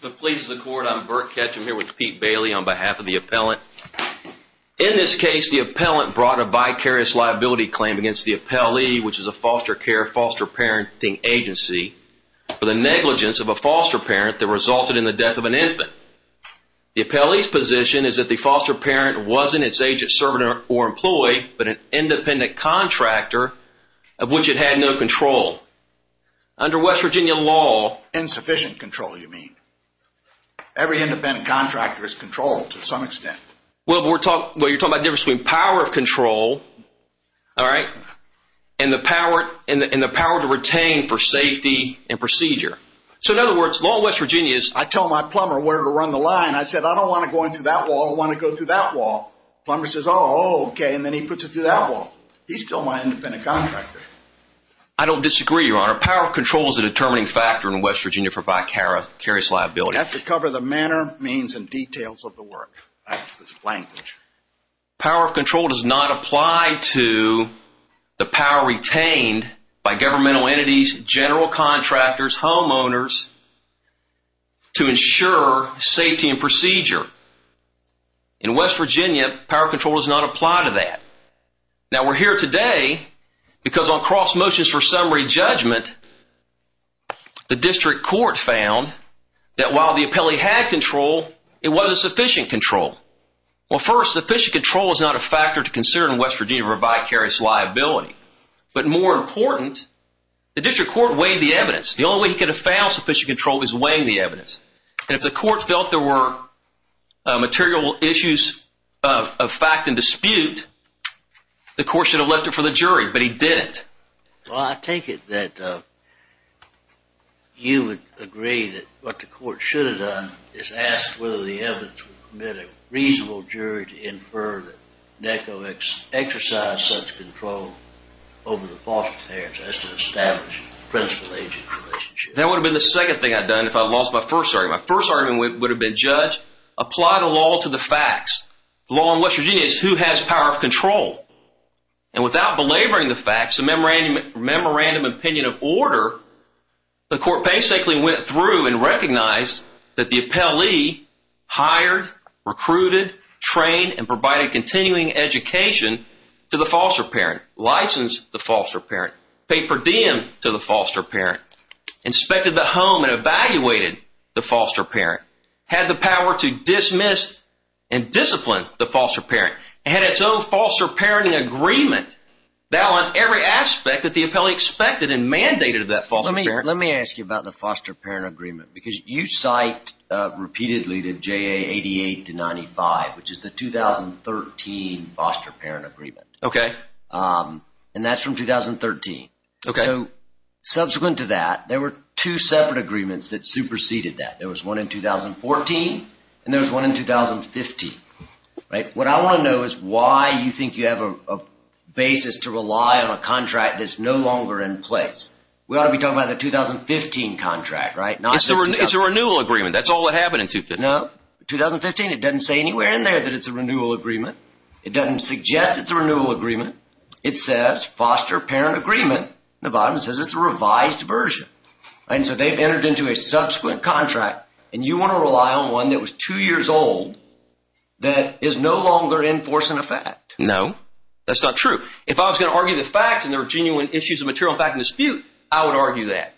For the Polices of the Court, I'm Burt Ketchum here with Pete Bailey on behalf of the appellant. In this case, the appellant brought a vicarious liability claim against the appellee, which is a foster care, foster parenting agency, for the negligence of a foster parent that resulted in the death of an infant. The appellee's position is that the foster parent wasn't its agent, servant, or employee, but an independent contractor of which it had no control. Under West Virginia law... Insufficient control, you mean. Every independent contractor is controlled to some extent. Well, you're talking about the difference between power of control, all right, and the power to retain for safety and procedure. So in other words, law in West Virginia is... I tell my plumber where to run the line. I said, I don't want to go into that wall. I want to go through that wall. Plumber says, oh, okay, then he puts it through that wall. He's still my independent contractor. I don't disagree, Your Honor. Power of control is a determining factor in West Virginia for vicarious liability. You have to cover the manner, means, and details of the work. That's this language. Power of control does not apply to the power retained by governmental entities, general contractors, homeowners, to ensure safety and procedure. In West Virginia, power of control does not apply to that. Now, we're here today because on cross motions for summary judgment, the district court found that while the appellee had control, it wasn't sufficient control. Well, first, sufficient control is not a factor to consider in West Virginia for vicarious liability. But more important, the district court weighed the evidence. The only way he could have found sufficient control is weighing the evidence. And if the court felt there were material issues of fact and dispute, the court should have left it for the jury, but he didn't. Well, I take it that you would agree that what the court should have done is asked whether the evidence would permit a reasonable jury to infer that NECO exercised such control over the false appearance as to establish principal-agent relationship. That would have been the second thing I'd done if I lost my first argument. My first argument would have been judged. Apply the law to the facts. The law in West Virginia is who has power of control. And without belaboring the facts, a memorandum of opinion of order, the court basically went through and recognized that the appellee hired, recruited, trained, and provided continuing education to the foster parent, licensed the foster parent, paid per diem to the foster parent, inspected the home and evaluated the foster parent, had the power to dismiss and discipline the foster parent, and had its own foster parenting agreement that on every aspect that the appellee expected and mandated of that foster parent. Let me ask you about the foster parent agreement because you cite repeatedly to JA 88 to 95, which is the 2013 foster parent agreement. And that's from 2013. So subsequent to that, there were two separate agreements that superseded that. There was one in 2014 and there was one in 2015. What I want to know is why you think you have a basis to rely on a contract that's no longer in place. We ought to be talking about the 2015 contract, right? It's a renewal agreement. That's all that happened in 2015. No. It doesn't say anywhere in there that it's a renewal agreement. It doesn't suggest it's a renewal agreement. It says foster parent agreement. The bottom says it's a revised version. And so they've entered into a subsequent contract and you want to rely on one that was two years old that is no longer enforcing a fact. No, that's not true. If I was going to argue the fact and there are genuine issues of material fact and dispute, I would argue that.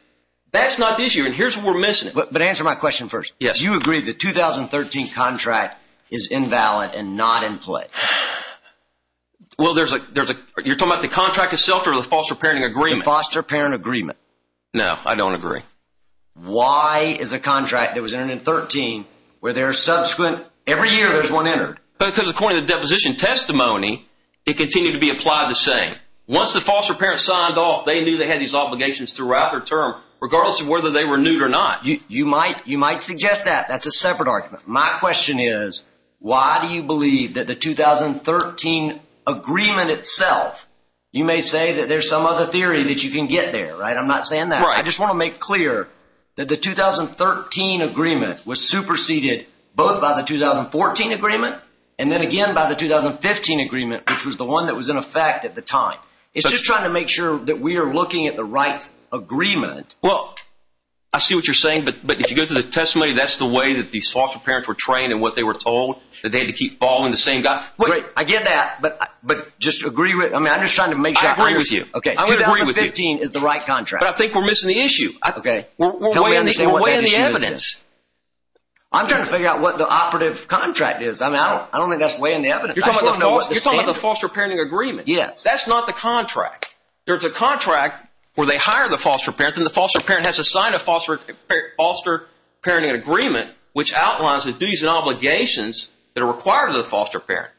That's not the issue here. Here's what we're missing. But answer my question first. Yes. You agree the 2013 contract is invalid and not in place. Well, there's a there's a you're talking about the contract itself or the foster parenting agreement. Foster parent agreement. No, I don't agree. Why is a contract that was entered in 13 where there are subsequent every year there's one entered because according to the deposition testimony, it continued to be applied the same. Once the foster parents signed off, they knew they had these obligations throughout their term, regardless of whether they renewed or not. You might you might suggest that that's a separate argument. My question is, why do you believe that the 2013 agreement itself? You may say that there's some other theory that you can get there. Right. I'm not saying that. I just want to make clear that the 2013 agreement was superseded both by the 2014 agreement and then again by the 2015 agreement, which was the one that was in effect at the time. It's just trying to make sure that we are looking at the right agreement. Well, I see what you're saying. But but if you go to the testimony, that's the way that these foster parents were trained and what they were told that they had to keep following the same guy. I get that. But but just agree with I mean, I'm just trying to make sure I agree with you. OK, I would agree with 15 is the right contract. I think we're missing the issue. OK, well, we understand what the evidence. I'm trying to figure out what the operative contract is. I'm out. I don't think that's weighing the evidence. You're talking about the foster parenting agreement. Yes, that's not the contract. There's a contract where they hire the foster parents and the foster parent has to sign a foster foster parenting agreement, which outlines the duties and obligations that are required of the foster parent.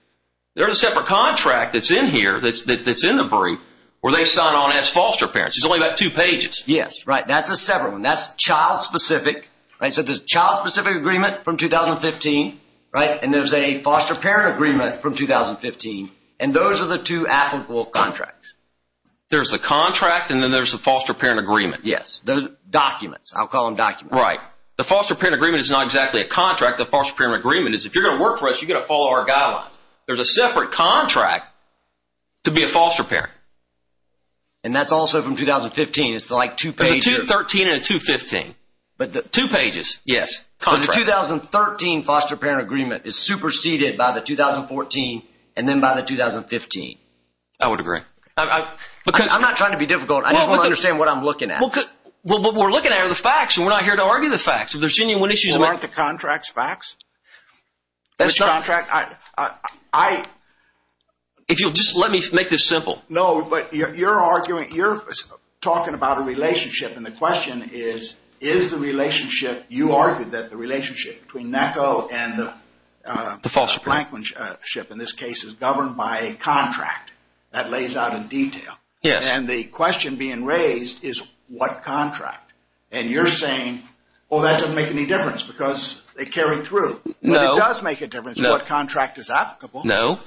There is a separate contract that's in here that's that's in the brief where they sign on as foster parents. It's only about two pages. Yes. Right. That's a separate one. That's child specific. Right. So the child specific agreement from 2015. Right. And there's a foster parent agreement from 2015. And those are the two applicable contracts. There's a contract and then there's a foster parent agreement. Yes. Those documents. I'll call them documents. Right. The foster parent agreement is not exactly a contract. The foster parent agreement is if you're going to work for us, you're going to follow our guidelines. There's a separate contract to be a foster parent. And that's also from 2015. It's like 2013 and 2015. But two pages. Yes. The 2013 foster parent agreement is superseded by the 2014 and then by the 2015. I would agree. Because I'm not trying to be difficult. I just want to understand what I'm looking at. What we're looking at are the facts and we're not here to argue the facts. If there's any issues. Aren't the contracts facts? That's not. I. If you'll just let me make this simple. No. But you're arguing. You're talking about a relationship. And the question is, is the relationship you argued that the relationship between NECO and the foster parent ship in this case is governed by a contract that lays out in detail. Yes. And the question being raised is what contract. And you're saying, well, that doesn't make any difference because they carry through. No. It does make a difference. What contract is applicable? No.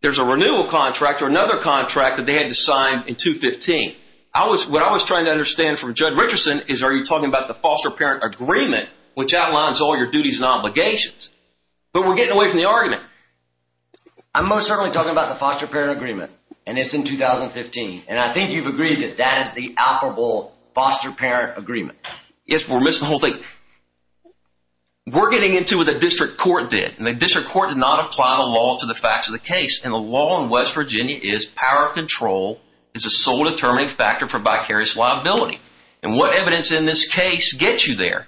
There's a renewal contract or another contract that they had to sign in 2015. I was what I was trying to understand from Judd Richardson is are you talking about the foster parent agreement, which outlines all your duties and obligations? But we're getting away from the argument. I'm most certainly talking about the foster parent agreement. And it's in 2015. And I think you've agreed that that is the operable foster parent agreement. Yes. We're missing the whole thing. We're getting into what the district court did. And the district court did not apply the law to the facts of the case. And the law in West Virginia is power of control is a sole determining factor for vicarious liability. And what evidence in this case gets you there?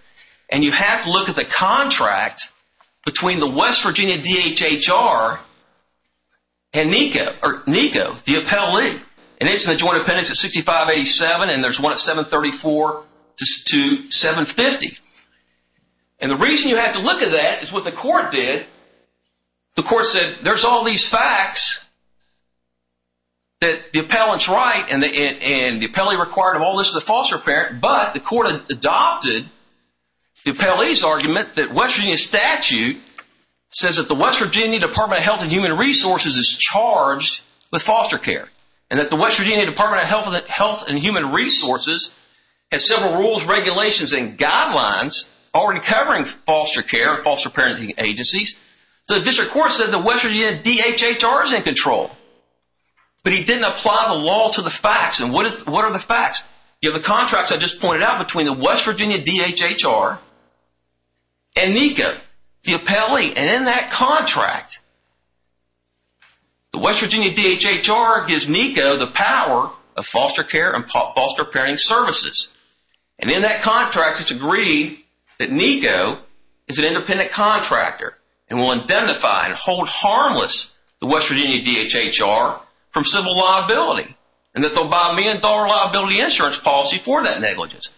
And you have to look at the contract between the West Virginia DHHR and NECO or NECO, the appellee. And it's in the joint appendix at 6587. And there's one at 734 to 750. And the reason you have to look at that is what the court did, the court said, there's all these facts that the appellant's right and the appellee required of all this is a foster parent. But the court adopted the appellee's argument that West Virginia statute says that the West Virginia Department of Health and Human Resources is charged with foster care. And that the West Virginia Department of Health and Human Resources has several rules, regulations, and guidelines already covering foster care and foster parenting agencies. So the district court said the West Virginia DHHR is in control, but he didn't apply the law to the facts. And what are the facts? You have the contracts I just pointed out between the West Virginia DHHR and NECO, the appellee. And in that contract, the West Virginia DHHR gives NECO the power of foster care and foster parenting services. And in that contract, it's agreed that NECO is an independent contractor and will identify and hold harmless the West Virginia DHHR from civil liability. And that they'll buy a million dollar liability insurance policy for that negligence.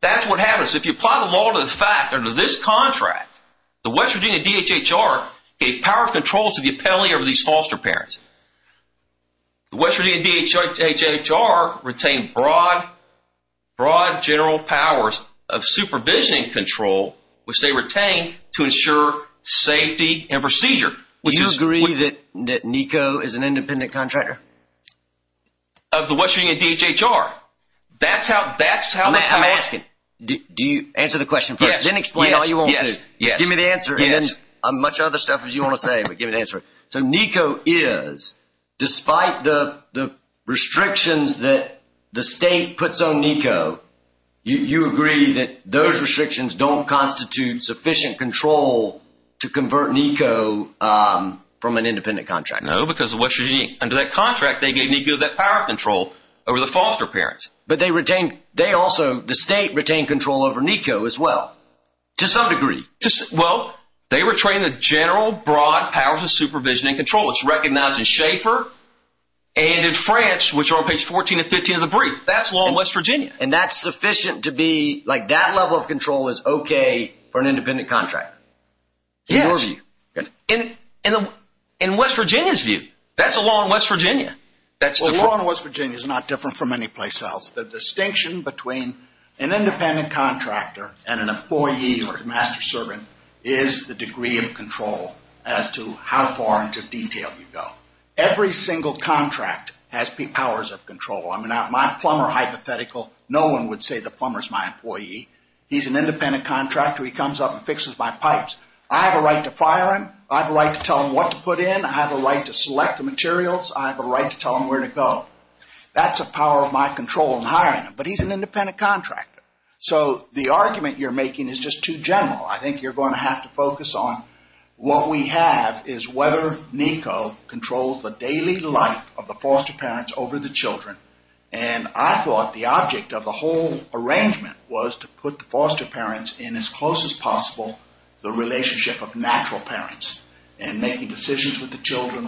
That's what happens if you apply the law to the contract. The West Virginia DHHR gave power of control to the appellee over these foster parents. The West Virginia DHHR retained broad general powers of supervision and control, which they retained to ensure safety and procedure. Do you agree that NECO is an independent contractor? Of the West Virginia DHHR? That's how... I'm asking, do you answer the answer? I'm much other stuff as you want to say, but give me the answer. So NECO is, despite the restrictions that the state puts on NECO, you agree that those restrictions don't constitute sufficient control to convert NECO from an independent contractor? No, because the West Virginia DHHR, under that contract, they gave NECO that power of control over the foster parents. But they retained, they also, the state retained control over NECO as well, to some degree. Well, they were training the general broad powers of supervision and control. It's recognized in Schaeffer and in France, which are on page 14 and 15 of the brief. That's law in West Virginia. And that's sufficient to be like that level of control is okay for an independent contractor? Yes. In West Virginia's view, that's a law in West Virginia. That's a law in West Virginia. It's not different from any place else. The distinction between an independent contractor and an employee or master servant is the degree of control as to how far into detail you go. Every single contract has powers of control. I mean, my plumber hypothetical, no one would say the plumber's my employee. He's an independent contractor. He comes up and fixes my pipes. I have a right to fire him. I have a right to put in. I have a right to select the materials. I have a right to tell him where to go. That's a power of my control in hiring him. But he's an independent contractor. So the argument you're making is just too general. I think you're going to have to focus on what we have is whether NECO controls the daily life of the foster parents over the children. And I thought the object of the whole arrangement was to put the foster parents in as close as the children.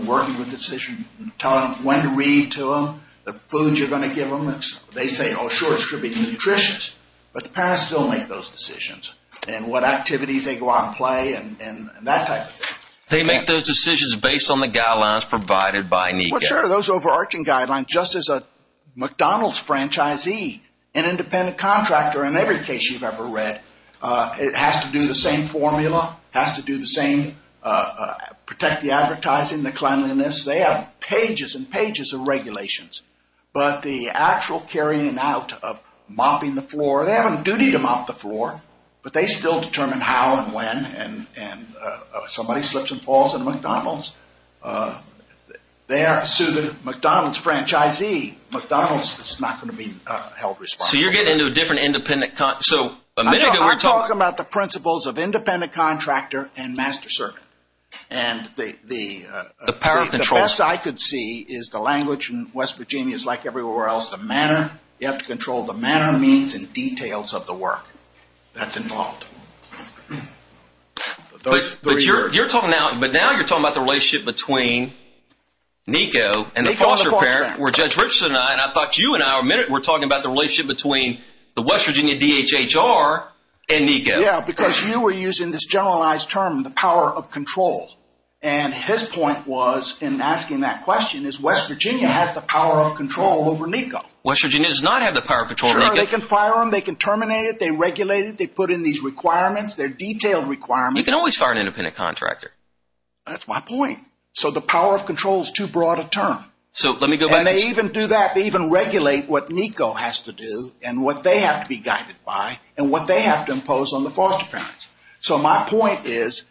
Working with the children. Telling them when to read to them. The food you're going to give them. They say, oh, sure, it's going to be nutritious. But the parents still make those decisions. And what activities they go out and play and that type of thing. They make those decisions based on the guidelines provided by NECO. Well, sure. Those overarching guidelines, just as a McDonald's franchisee, an independent contractor in every case you've ever read, it has to do the same formula, has to do the same, protect the advertising, the cleanliness. They have pages and pages of regulations. But the actual carrying out of mopping the floor, they have a duty to mop the floor, but they still determine how and when. And somebody slips and falls in McDonald's, they have to sue the McDonald's franchisee. McDonald's is not going to be held responsible. So you're getting into a different independent... I'm talking about the principles of independent contractor and master servant. And the best I could see is the language in West Virginia is like everywhere else, the manner. You have to control the manner, means, and details of the work that's involved. But now you're talking about the relationship between NECO and the foster parent, where Judge Richardson and I, and I thought you and I were talking about the relationship between the West Virginia DHHR and NECO. Yeah, because you were using this generalized term, the power of control. And his point was, in asking that question, is West Virginia has the power of control over NECO. West Virginia does not have the power of control over NECO. Sure, they can fire them, they can terminate it, they regulate it, they put in these requirements, they're detailed requirements. You can always fire an independent contractor. That's my point. So the power of control is too broad a term. So let me go back... And they even do that, they even regulate what NECO has to do and what they have to be guided by and what they have to impose on the foster parents. So my point is,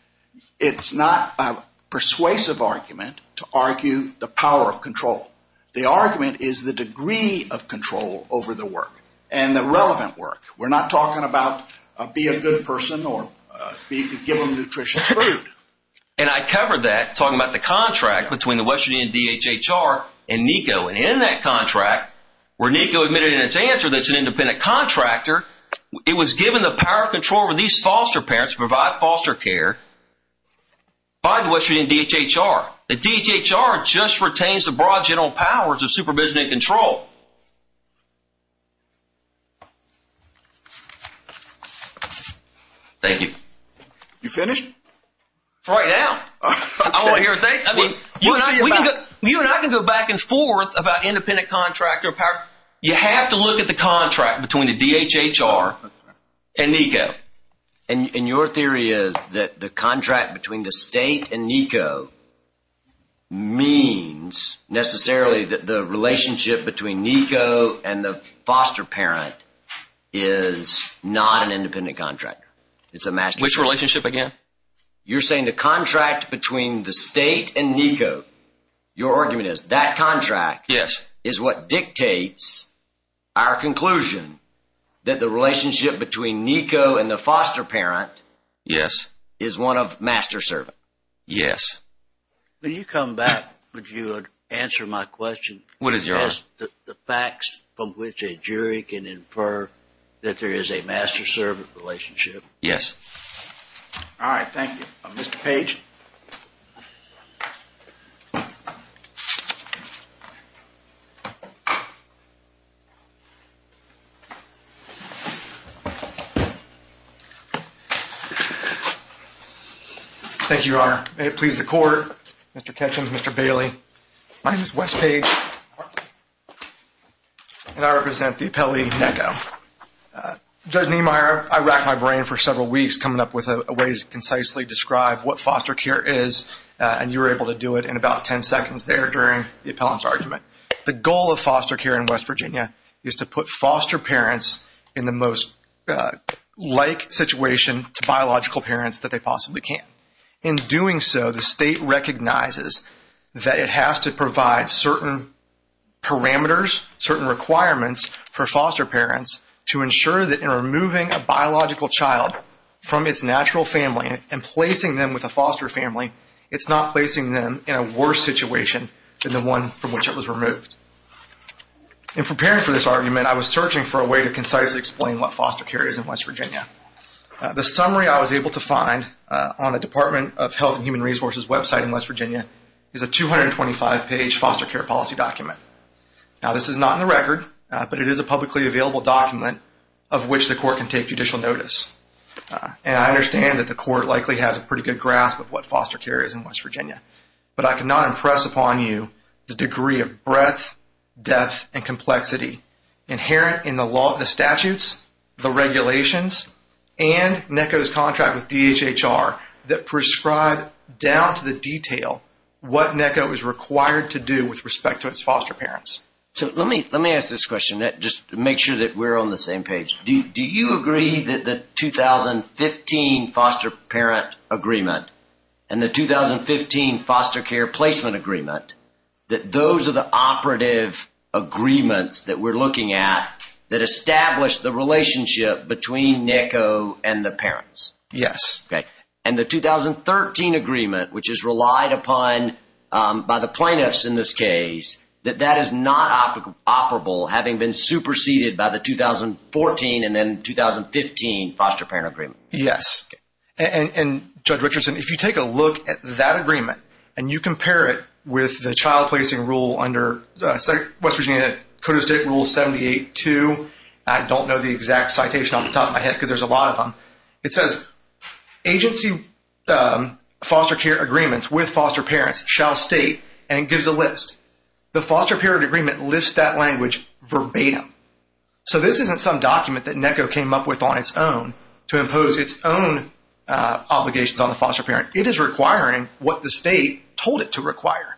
it's not a persuasive argument to argue the power of control. The argument is the degree of control over the work and the relevant work. We're not talking about be a good person or give them nutritious food. And I covered that talking about the contract between the West where NECO admitted in its answer that it's an independent contractor. It was given the power of control over these foster parents to provide foster care by the West Virginia DHHR. The DHHR just retains the broad general powers of supervision and control. Thank you. You finished? Right now. I want to hear a thank you. You and I can go back and forth about independent contractor power. You have to look at the contract between the DHHR and NECO. And your theory is that the contract between the state and NECO means necessarily that the relationship between NECO and the foster parent is not an independent contractor. It's a match. Which relationship again? You're saying the contract between the state and NECO is what dictates our conclusion that the relationship between NECO and the foster parent is one of master-servant? Yes. When you come back, would you answer my question? What is yours? The facts from which a jury can infer that there is a master-servant relationship? Yes. All right. Thank you. Mr. Page. Thank you, Your Honor. May it please the Court, Mr. Ketchum, Mr. Bailey. My name is West Page and I represent the appellee NECO. Judge Niemeyer, I racked my brain for several weeks coming up with a way to concisely describe what foster care is and you were able to do it in about 10 seconds there during the appellant's argument. The goal of foster care in West Virginia is to put foster parents in the most like situation to biological parents that they possibly can. In doing so, the state recognizes that it has to provide certain parameters, certain requirements for foster parents to ensure that in removing a biological child from its natural family and placing them with a foster family, it's not placing them in a worse situation than the one from which it was removed. In preparing for this argument, I was searching for a way to concisely explain what foster care is in West Virginia. The summary I was able to find on the Department of Health and Human Resources website in West Virginia is a 225-page foster care policy document. Now, this is not in the record, but it is a publicly available document of which the Court can take judicial notice. I understand that the Court likely has a pretty good grasp of what foster care is in West Virginia, but I cannot impress upon you the degree of breadth, depth, and complexity inherent in the law, the statutes, the regulations, and NECO's contract with DHHR that prescribe down to the detail what NECO is required to do with respect to its foster parents. So, let me ask this question, just to make sure that we're on the same page. Do you agree that the 2015 foster parent agreement and the 2015 foster care placement agreement, that those are the operative agreements that we're looking at that establish the relationship between NECO and the parents? Yes. Okay. And the 2013 agreement, which is relied upon by the plaintiffs in this case, that that is not operable, having been superseded by the 2014 and then 2015 foster parent agreement? Yes. And Judge Richardson, if you take a look at that agreement and you compare it with the child placing rule under West Virginia Code of State Rule 78-2, I don't know the exact It says, agency foster care agreements with foster parents shall state, and it gives a list. The foster parent agreement lists that language verbatim. So, this isn't some document that NECO came up with on its own to impose its own obligations on the foster parent. It is requiring what the state told it to require.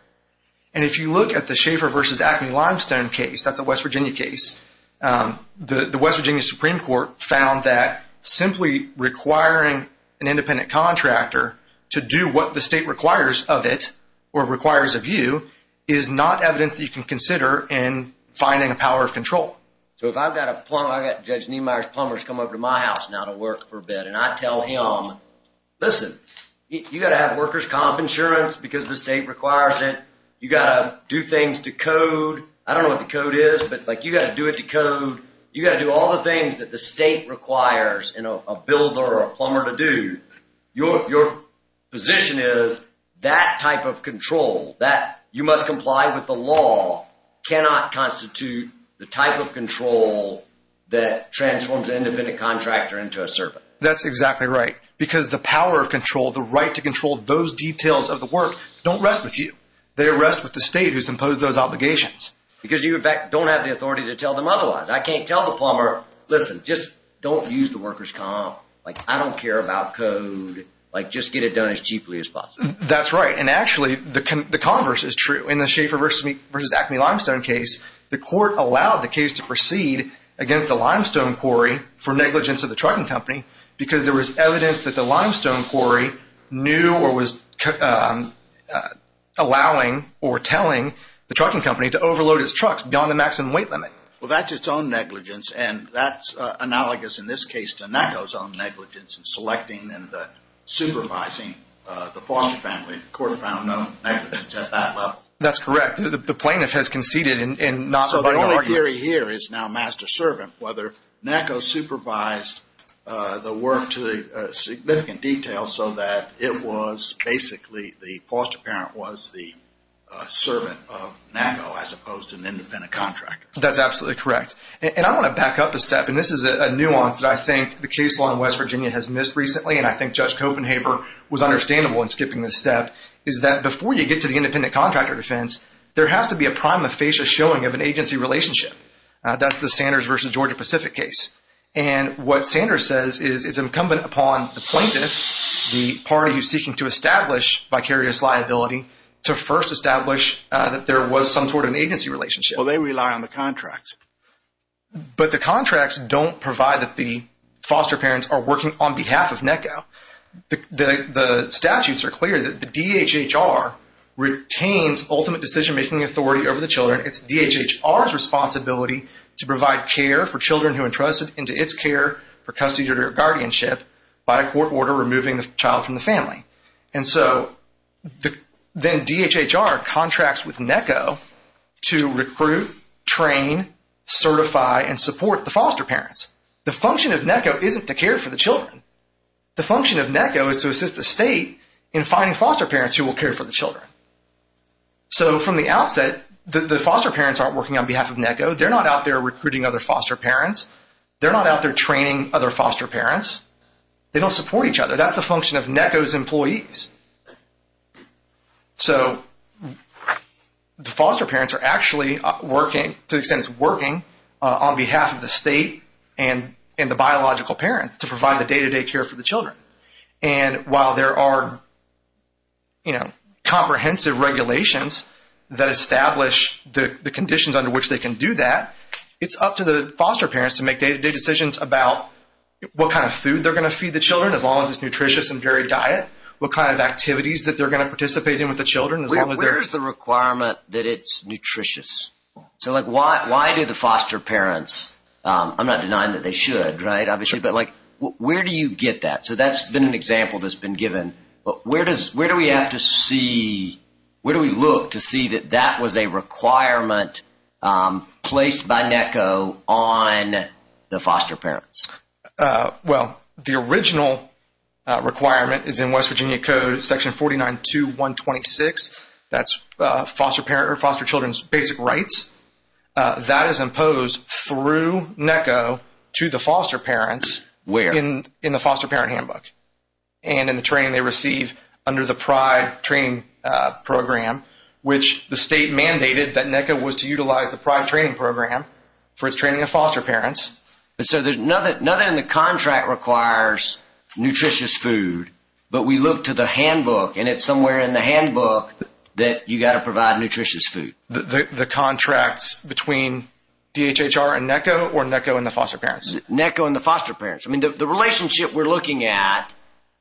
And if you look at the Schaefer versus Acme-Limestone case, that's a West Virginia case. The West Virginia Supreme Court found that simply requiring an independent contractor to do what the state requires of it, or requires of you, is not evidence that you can consider in finding a power of control. So, if I've got a plumber, I've got Judge Niemeyer's plumbers come over to my house now to work for a bit, and I tell him, listen, you got to have workers' comp insurance because the state requires it. You got to do things to like, you got to do it to code. You got to do all the things that the state requires, you know, a builder or a plumber to do. Your position is that type of control, that you must comply with the law, cannot constitute the type of control that transforms an independent contractor into a servant. That's exactly right, because the power of control, the right to control those details of the work, don't rest with you. They rest with the state who's imposed those obligations. Because you, don't have the authority to tell them otherwise. I can't tell the plumber, listen, just don't use the workers' comp. Like, I don't care about code. Like, just get it done as cheaply as possible. That's right. And actually, the converse is true. In the Schaefer v. Acme limestone case, the court allowed the case to proceed against the limestone quarry for negligence of the trucking company because there was evidence that the limestone quarry knew or was allowing or telling the trucking company to overload its trucks beyond the maximum weight limit. Well, that's its own negligence, and that's analogous in this case to NACO's own negligence in selecting and supervising the foster family. The court found no negligence at that level. That's correct. The plaintiff has conceded in not... So the only theory here is now master-servant, whether NACO supervised the work to significant detail so that it was basically the foster parent was the servant of NACO as opposed to an independent contractor. That's absolutely correct. And I want to back up a step, and this is a nuance that I think the case law in West Virginia has missed recently, and I think Judge Copenhaver was understandable in skipping this step, is that before you get to the independent contractor defense, there has to be a prima facie showing of an agency relationship. That's the Sanders v. Georgia Pacific case. And what Sanders says is it's incumbent upon the plaintiff, the party who's seeking to establish vicarious liability, to first establish that there was some sort of agency relationship. Well, they rely on the contracts. But the contracts don't provide that the foster parents are working on behalf of NACO. The statutes are clear that the DHHR retains ultimate decision-making authority over the children. It's DHHR's responsibility to provide care for children who are entrusted into its care for custody or guardianship by a court order removing the child from the family. And so then DHHR contracts with NACO to recruit, train, certify, and support the foster parents. The function of NACO isn't to care for the children. The function of NACO is to assist the state in finding foster parents who will care for the children. So from the outset, the foster parents aren't working on behalf of NACO. They're not out there recruiting other foster parents. They don't support each other. That's the function of NACO's employees. So the foster parents are actually working, to the extent it's working, on behalf of the state and the biological parents to provide the day-to-day care for the children. And while there are comprehensive regulations that establish the conditions under which they can do that, it's up to the foster parents to make day-to-day decisions about what kind of food they're going to feed the children, as long as it's nutritious and varied diet. What kind of activities that they're going to participate in with the children, as long as they're... Where's the requirement that it's nutritious? So like, why do the foster parents, I'm not denying that they should, right, obviously, but like, where do you get that? So that's been an example that's been given. Where do we have to see, where do we look to see that that was a requirement placed by NACO on the foster parents? Well, the original requirement is in West Virginia Code section 49.2.126. That's foster parent or foster children's basic rights. That is imposed through NACO to the foster parents. Where? In the foster parent handbook and in the training they receive under the PRIDE training program, which the state mandated that NACO was to utilize the PRIDE training program for its training of foster parents. And so nothing in the contract requires nutritious food, but we look to the handbook and it's somewhere in the handbook that you got to provide nutritious food. The contracts between DHHR and NACO or NACO and the foster parents? NACO and the foster parents. I mean, the relationship we're looking at,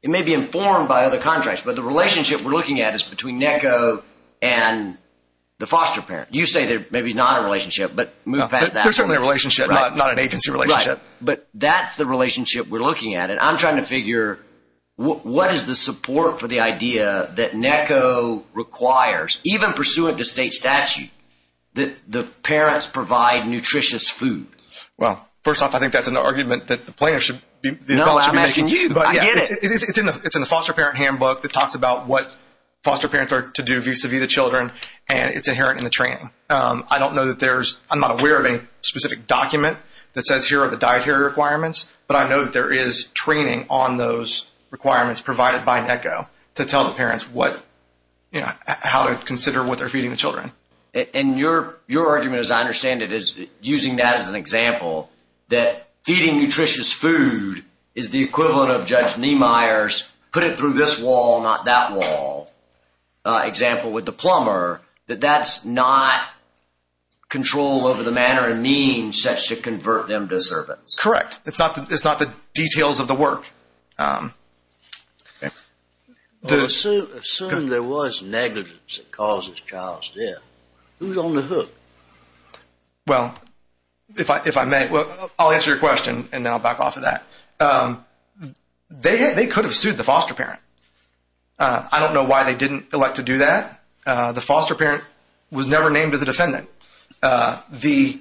it may be informed by other contracts, but the relationship we're looking at is between NACO and the foster parent. You say there may be not a relationship, but move past that. There's certainly a relationship, not an agency relationship. But that's the relationship we're looking at. And I'm trying to figure, what is the support for the idea that NACO requires, even pursuant to state statute, that the parents provide nutritious food? Well, first off, I think that's an argument that the plaintiff should be making. No, I'm asking you. I get it. It's in the foster parent handbook that talks about what foster parents are to do vis-a-vis the children, and it's inherent in the training. I'm not aware of any specific document that says here are the dietary requirements, but I know that there is training on those requirements provided by NACO to tell the parents how to consider what they're feeding the children. And your argument, as I understand it, is using that as an example, that feeding nutritious food is the equivalent of Judge Niemeyer's not that wall example with the plumber, that that's not control over the manner and means such to convert them to servants. Correct. It's not the details of the work. Assume there was negligence that causes child's death. Who's on the hook? Well, if I may, I'll answer your question, and then I'll back off of that. They could have sued the foster parent. I don't know why they didn't elect to do that. The foster parent was never named as a defendant. The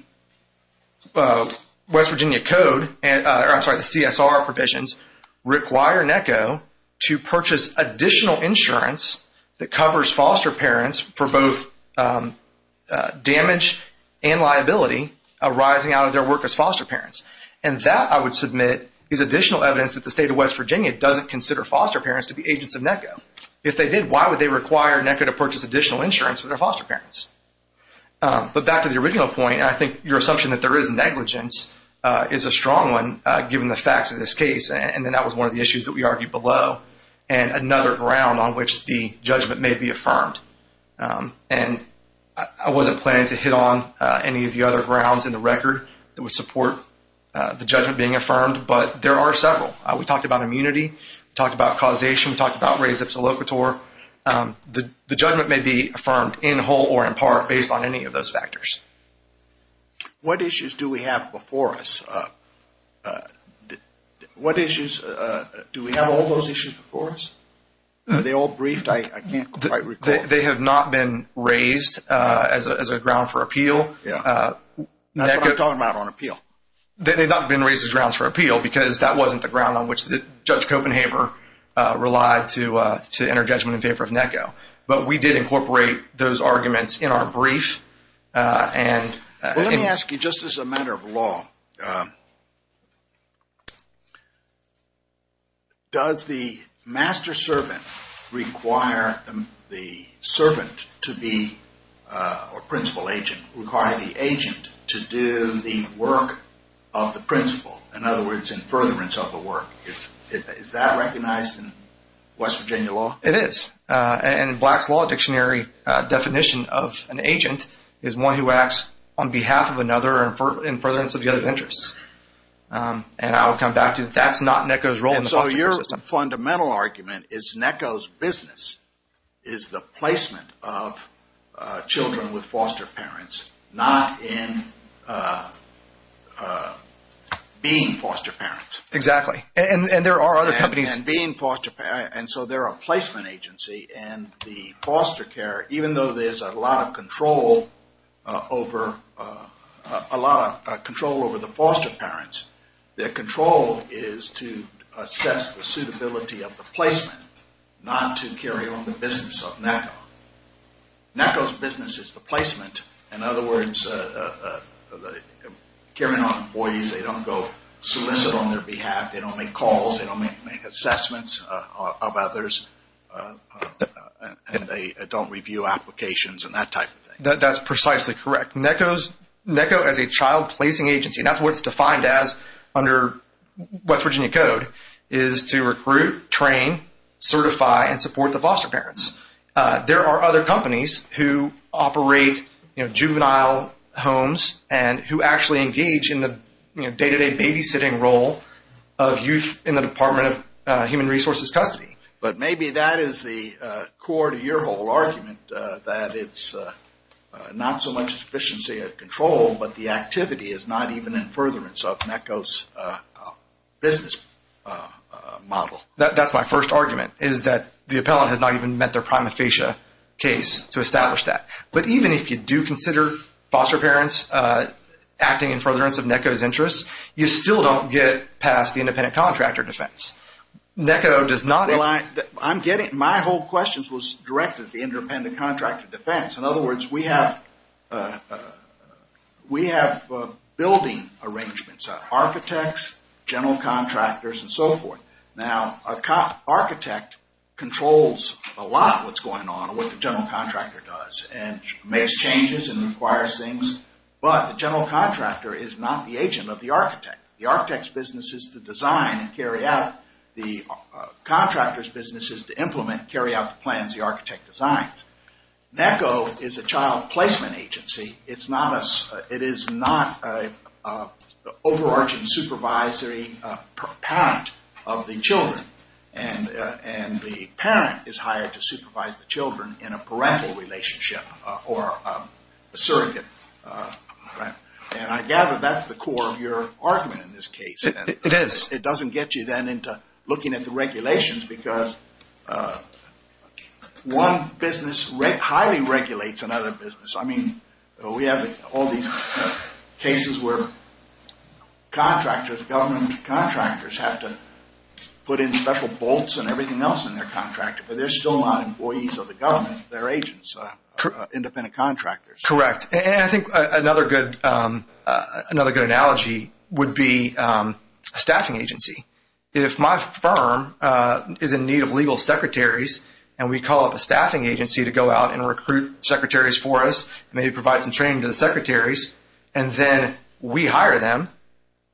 West Virginia Code, or I'm sorry, the CSR provisions, require NACO to purchase additional insurance that covers foster parents for both damage and liability arising out of their work as foster parents. And that, I would submit, is additional evidence that the state of West Virginia doesn't consider foster parents to be agents of NACO. If they did, why would they require NACO to purchase additional insurance for their foster parents? But back to the original point, I think your assumption that there is negligence is a strong one, given the facts of this case. And then that was one of the issues that we argued below, and another ground on which the judgment may be affirmed. And I wasn't planning to hit on any of the other grounds in the record that would support the judgment being affirmed, but there are several. We talked about immunity. We talked about causation. We talked about res ipsa locator. The judgment may be affirmed in whole or in part based on any of those factors. What issues do we have before us? What issues do we have all those issues before us? Are they all briefed? I can't quite recall. They have not been raised as a ground for appeal. Yeah, that's what I'm talking about on appeal. They've not been raised as grounds for appeal because that wasn't the ground on which Judge Copenhaver relied to enter judgment in favor of NACO. But we did incorporate those arguments in our brief. And let me ask you, just as a matter of law, does the master servant require the servant to be a principal agent? Require the agent to do the work of the principal? In other words, in furtherance of the work. Is that recognized in West Virginia law? It is. And Black's Law Dictionary definition of an agent is one who acts on behalf of another in furtherance of the other's interests. And I will come back to that. That's not NACO's role. So your fundamental argument is NACO's business is the placement of children with foster parents, not in being foster parents. Exactly. And there are other companies. And being foster parents. And so they're a placement agency. And the foster care, even though there's a lot of control over the foster parents, their control is to assess the suitability of the placement, not to carry on the business of NACO. NACO's business is the placement. In other words, they don't go solicit on their behalf. They don't make calls. They don't make assessments of others. And they don't review applications and that type of thing. That's precisely correct. NACO, as a child placing agency, that's what it's defined as under West Virginia code, is to recruit, train, certify, and support the foster parents. There are other companies who operate juvenile homes and who actually engage in the day-to-day babysitting role of youth in the Department of Human Resources custody. But maybe that is the core to your whole argument, that it's not so much sufficiency of control, but the activity is not even in furtherance of NACO's business model. That's my first argument, is that the appellant has not even met their prima facie case to establish that. But even if you do consider foster parents acting in furtherance of NACO's interests, you still don't get past the independent contractor defense. NACO does not... I'm getting... My whole question was directed at the independent contractor defense. In other words, we have building arrangements, architects, general contractors, and so forth. Now, an architect controls a lot of what's going on, what the general contractor does, and makes changes and requires things. But the general contractor is not the agent of the architect. The architect's business is to design and carry out. The contractor's business is to implement, carry out the plans the architect designs. NACO is a child placement agency. It's not an overarching supervisory parent of the children. And the parent is hired to supervise the children in a parental relationship or a surrogate. And I gather that's the core of your argument in this case. It is. It doesn't get you then into looking at the regulations because one business highly regulates another business. We have all these cases where contractors, government contractors, have to put in special bolts and everything else in their contractor, but they're still not employees of the government. They're agents, independent contractors. Correct. And I think another good analogy would be a staffing agency. If my firm is in need of legal secretaries, and we call up a staffing agency to go out and recruit secretaries for us, and they provide some training to the secretaries, and then we hire them,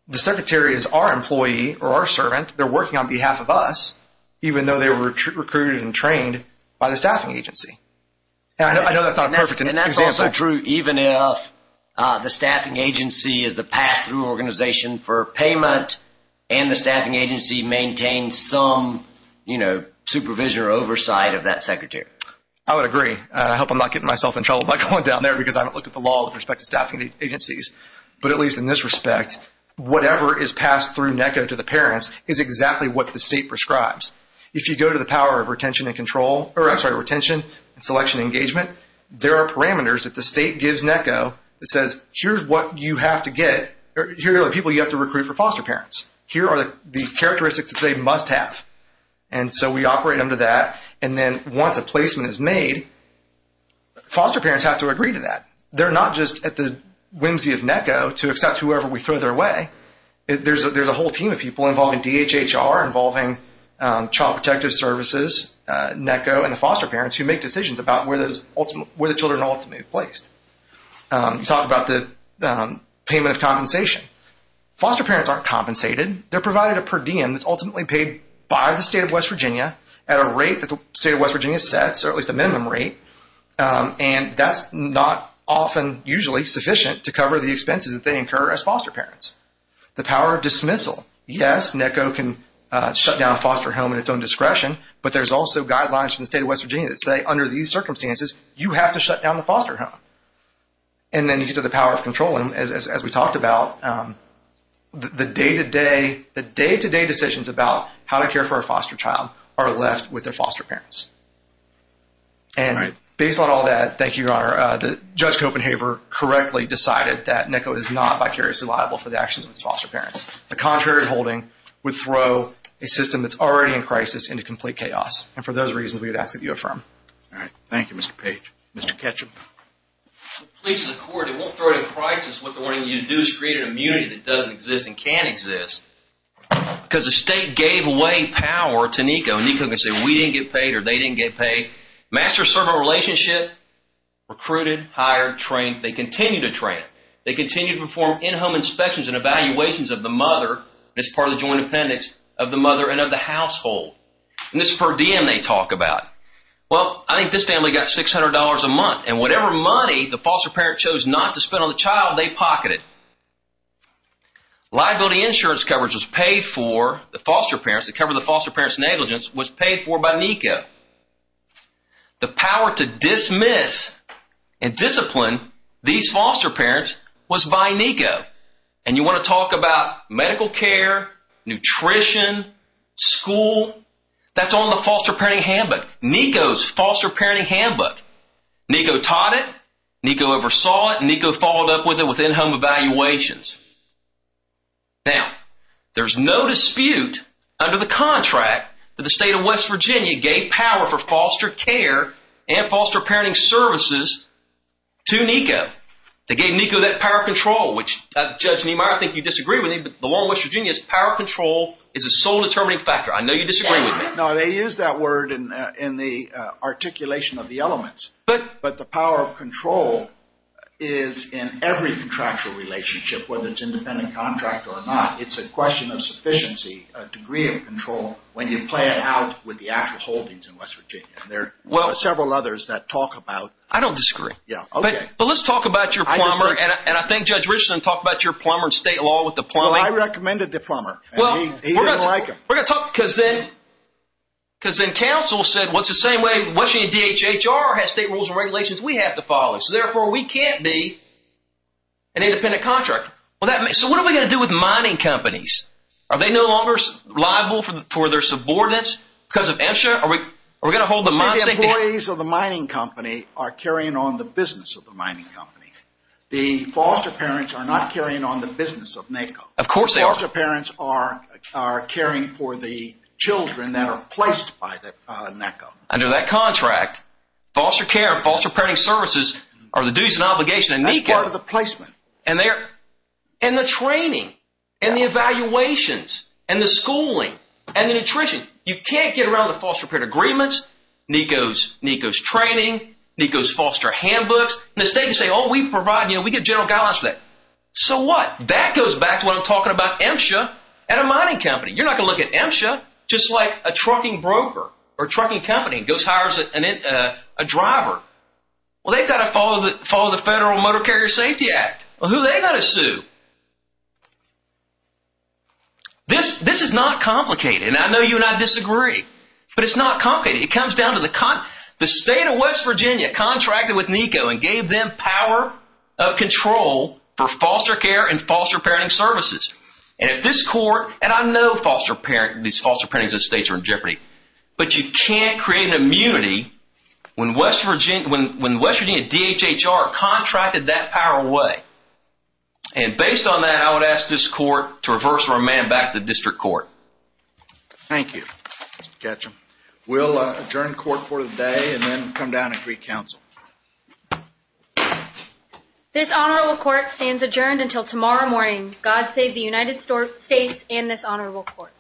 the secretary is our employee or our servant. They're working on behalf of us, even though they were recruited and trained by the staffing agency. And I know that's not a perfect example. And that's also true even if the staffing agency is the pass-through organization for payment and the staffing agency maintains some supervision or oversight of that secretary. I would agree. I hope I'm not getting myself in trouble by going down there because I haven't looked at the law with respect to staffing agencies. But at least in this respect, whatever is passed through NECO to the parents is exactly what the state prescribes. If you go to the power of retention and control, or I'm sorry, retention and selection engagement, there are parameters that the state gives NECO that says, here's what you have to get. Here are the people you have to recruit for foster parents. Here are the characteristics that they must have. And so we operate under that. And then once a placement is made, foster parents have to agree to that. They're not just at the whimsy of NECO to accept whoever we throw their way. There's a whole team of people involved in DHHR, involving Child Protective Services, NECO, and the foster parents who make decisions about where the children ultimately placed. You talked about the payment of compensation. Foster parents aren't compensated. They're provided a per diem that's ultimately paid by the state of West Virginia at a rate that the state of West Virginia sets, or at least a minimum rate. And that's not often usually sufficient to cover the expenses that they incur as foster parents. The power of dismissal. Yes, NECO can shut down a foster home at its own discretion. But there's also guidelines from the state of West Virginia that say, under these circumstances, you have to shut down the foster home. And then you get to the power of control. And as we talked about, the day-to-day decisions about how to care for a foster child are left with their foster parents. And based on all that, thank you, Your Honor, Judge Copenhaver correctly decided that NECO is not vicariously liable for the actions of its foster parents. The contrary holding would throw a system that's already in crisis into complete chaos. And for those reasons, we would ask that you affirm. All right. Thank you, Mr. Page. Mr. Ketchum. Please, as a court, it won't throw it in crisis. What they're wanting you to do is create an immunity that doesn't exist and can exist. Because the state gave away power to NECO. And NECO can say, we didn't get paid or they didn't get paid. Master-servant relationship. Recruited, hired, trained. They continue to train. They continue to perform in-home inspections and evaluations of the mother, and it's part of the joint appendix, of the mother and of the household. And this is per diem they talk about. Well, I think this family got $600 a month. And whatever money the foster parent chose not to spend on the child, they pocketed. Liability insurance coverage was paid for. The foster parents that cover the foster parents' negligence was paid for by NECO. The power to dismiss and discipline these foster parents was by NECO. And you want to talk about medical care, nutrition, school. That's on the foster parenting handbook. NECO's foster parenting handbook. NECO taught it. NECO oversaw it. NECO followed up with it with in-home evaluations. Now, there's no dispute under the contract that the state of West Virginia gave power for foster care and foster parenting services to NECO. They gave NECO that power control, which, Judge Niemeyer, I think you disagree with me, but the law in West Virginia is power control is a sole determining factor. I know you disagree with me. No, they use that word in the articulation of the elements. But the power of control is in every contractual relationship, whether it's independent contract or not. It's a question of sufficiency, a degree of control when you play it out with the actual holdings in West Virginia. There are several others that talk about. I don't disagree. Yeah, OK. But let's talk about your plumber. And I think Judge Richardson talked about your plumber and state law with the plumber. I recommended the plumber. Well, he didn't like him. We're going to talk because then council said, well, it's the same way West Virginia DHHR has state rules and regulations. We have to follow. So therefore, we can't be an independent contractor. Well, so what are we going to do with mining companies? Are they no longer liable for their subordinates because of MSHA? Are we going to hold the mining company are carrying on the business of the mining company. The foster parents are not carrying on the business of NECO. Of course, they are. Foster parents are caring for the children that are placed by the NECO. Under that contract, foster care, foster parenting services are the duties and obligation. And that's part of the placement. And they're in the training and the evaluations and the schooling and the nutrition. You can't get around the foster parent agreements. NECO's training, NECO's foster handbooks. The state say, oh, we provide, you know, we get general guidelines for that. So what? That goes back to what I'm talking about MSHA and a mining company. You're not going to look at MSHA just like a trucking broker or trucking company goes hires a driver. Well, they've got to follow the Federal Motor Carrier Safety Act. Well, who they got to sue? This is not complicated. I know you and I disagree, but it's not complicated. It comes down to the state of West Virginia contracted with NECO and gave them power of foster care and foster parenting services. And at this court, and I know foster parent, these foster parenting estates are in jeopardy, but you can't create an immunity when West Virginia, when West Virginia DHHR contracted that power away. And based on that, I would ask this court to reverse or amend back the district court. Thank you, Mr. Ketchum. We'll adjourn court for the day and then come down and recouncil. This Honorable Court stands adjourned until tomorrow morning. God save the United States and this Honorable Court.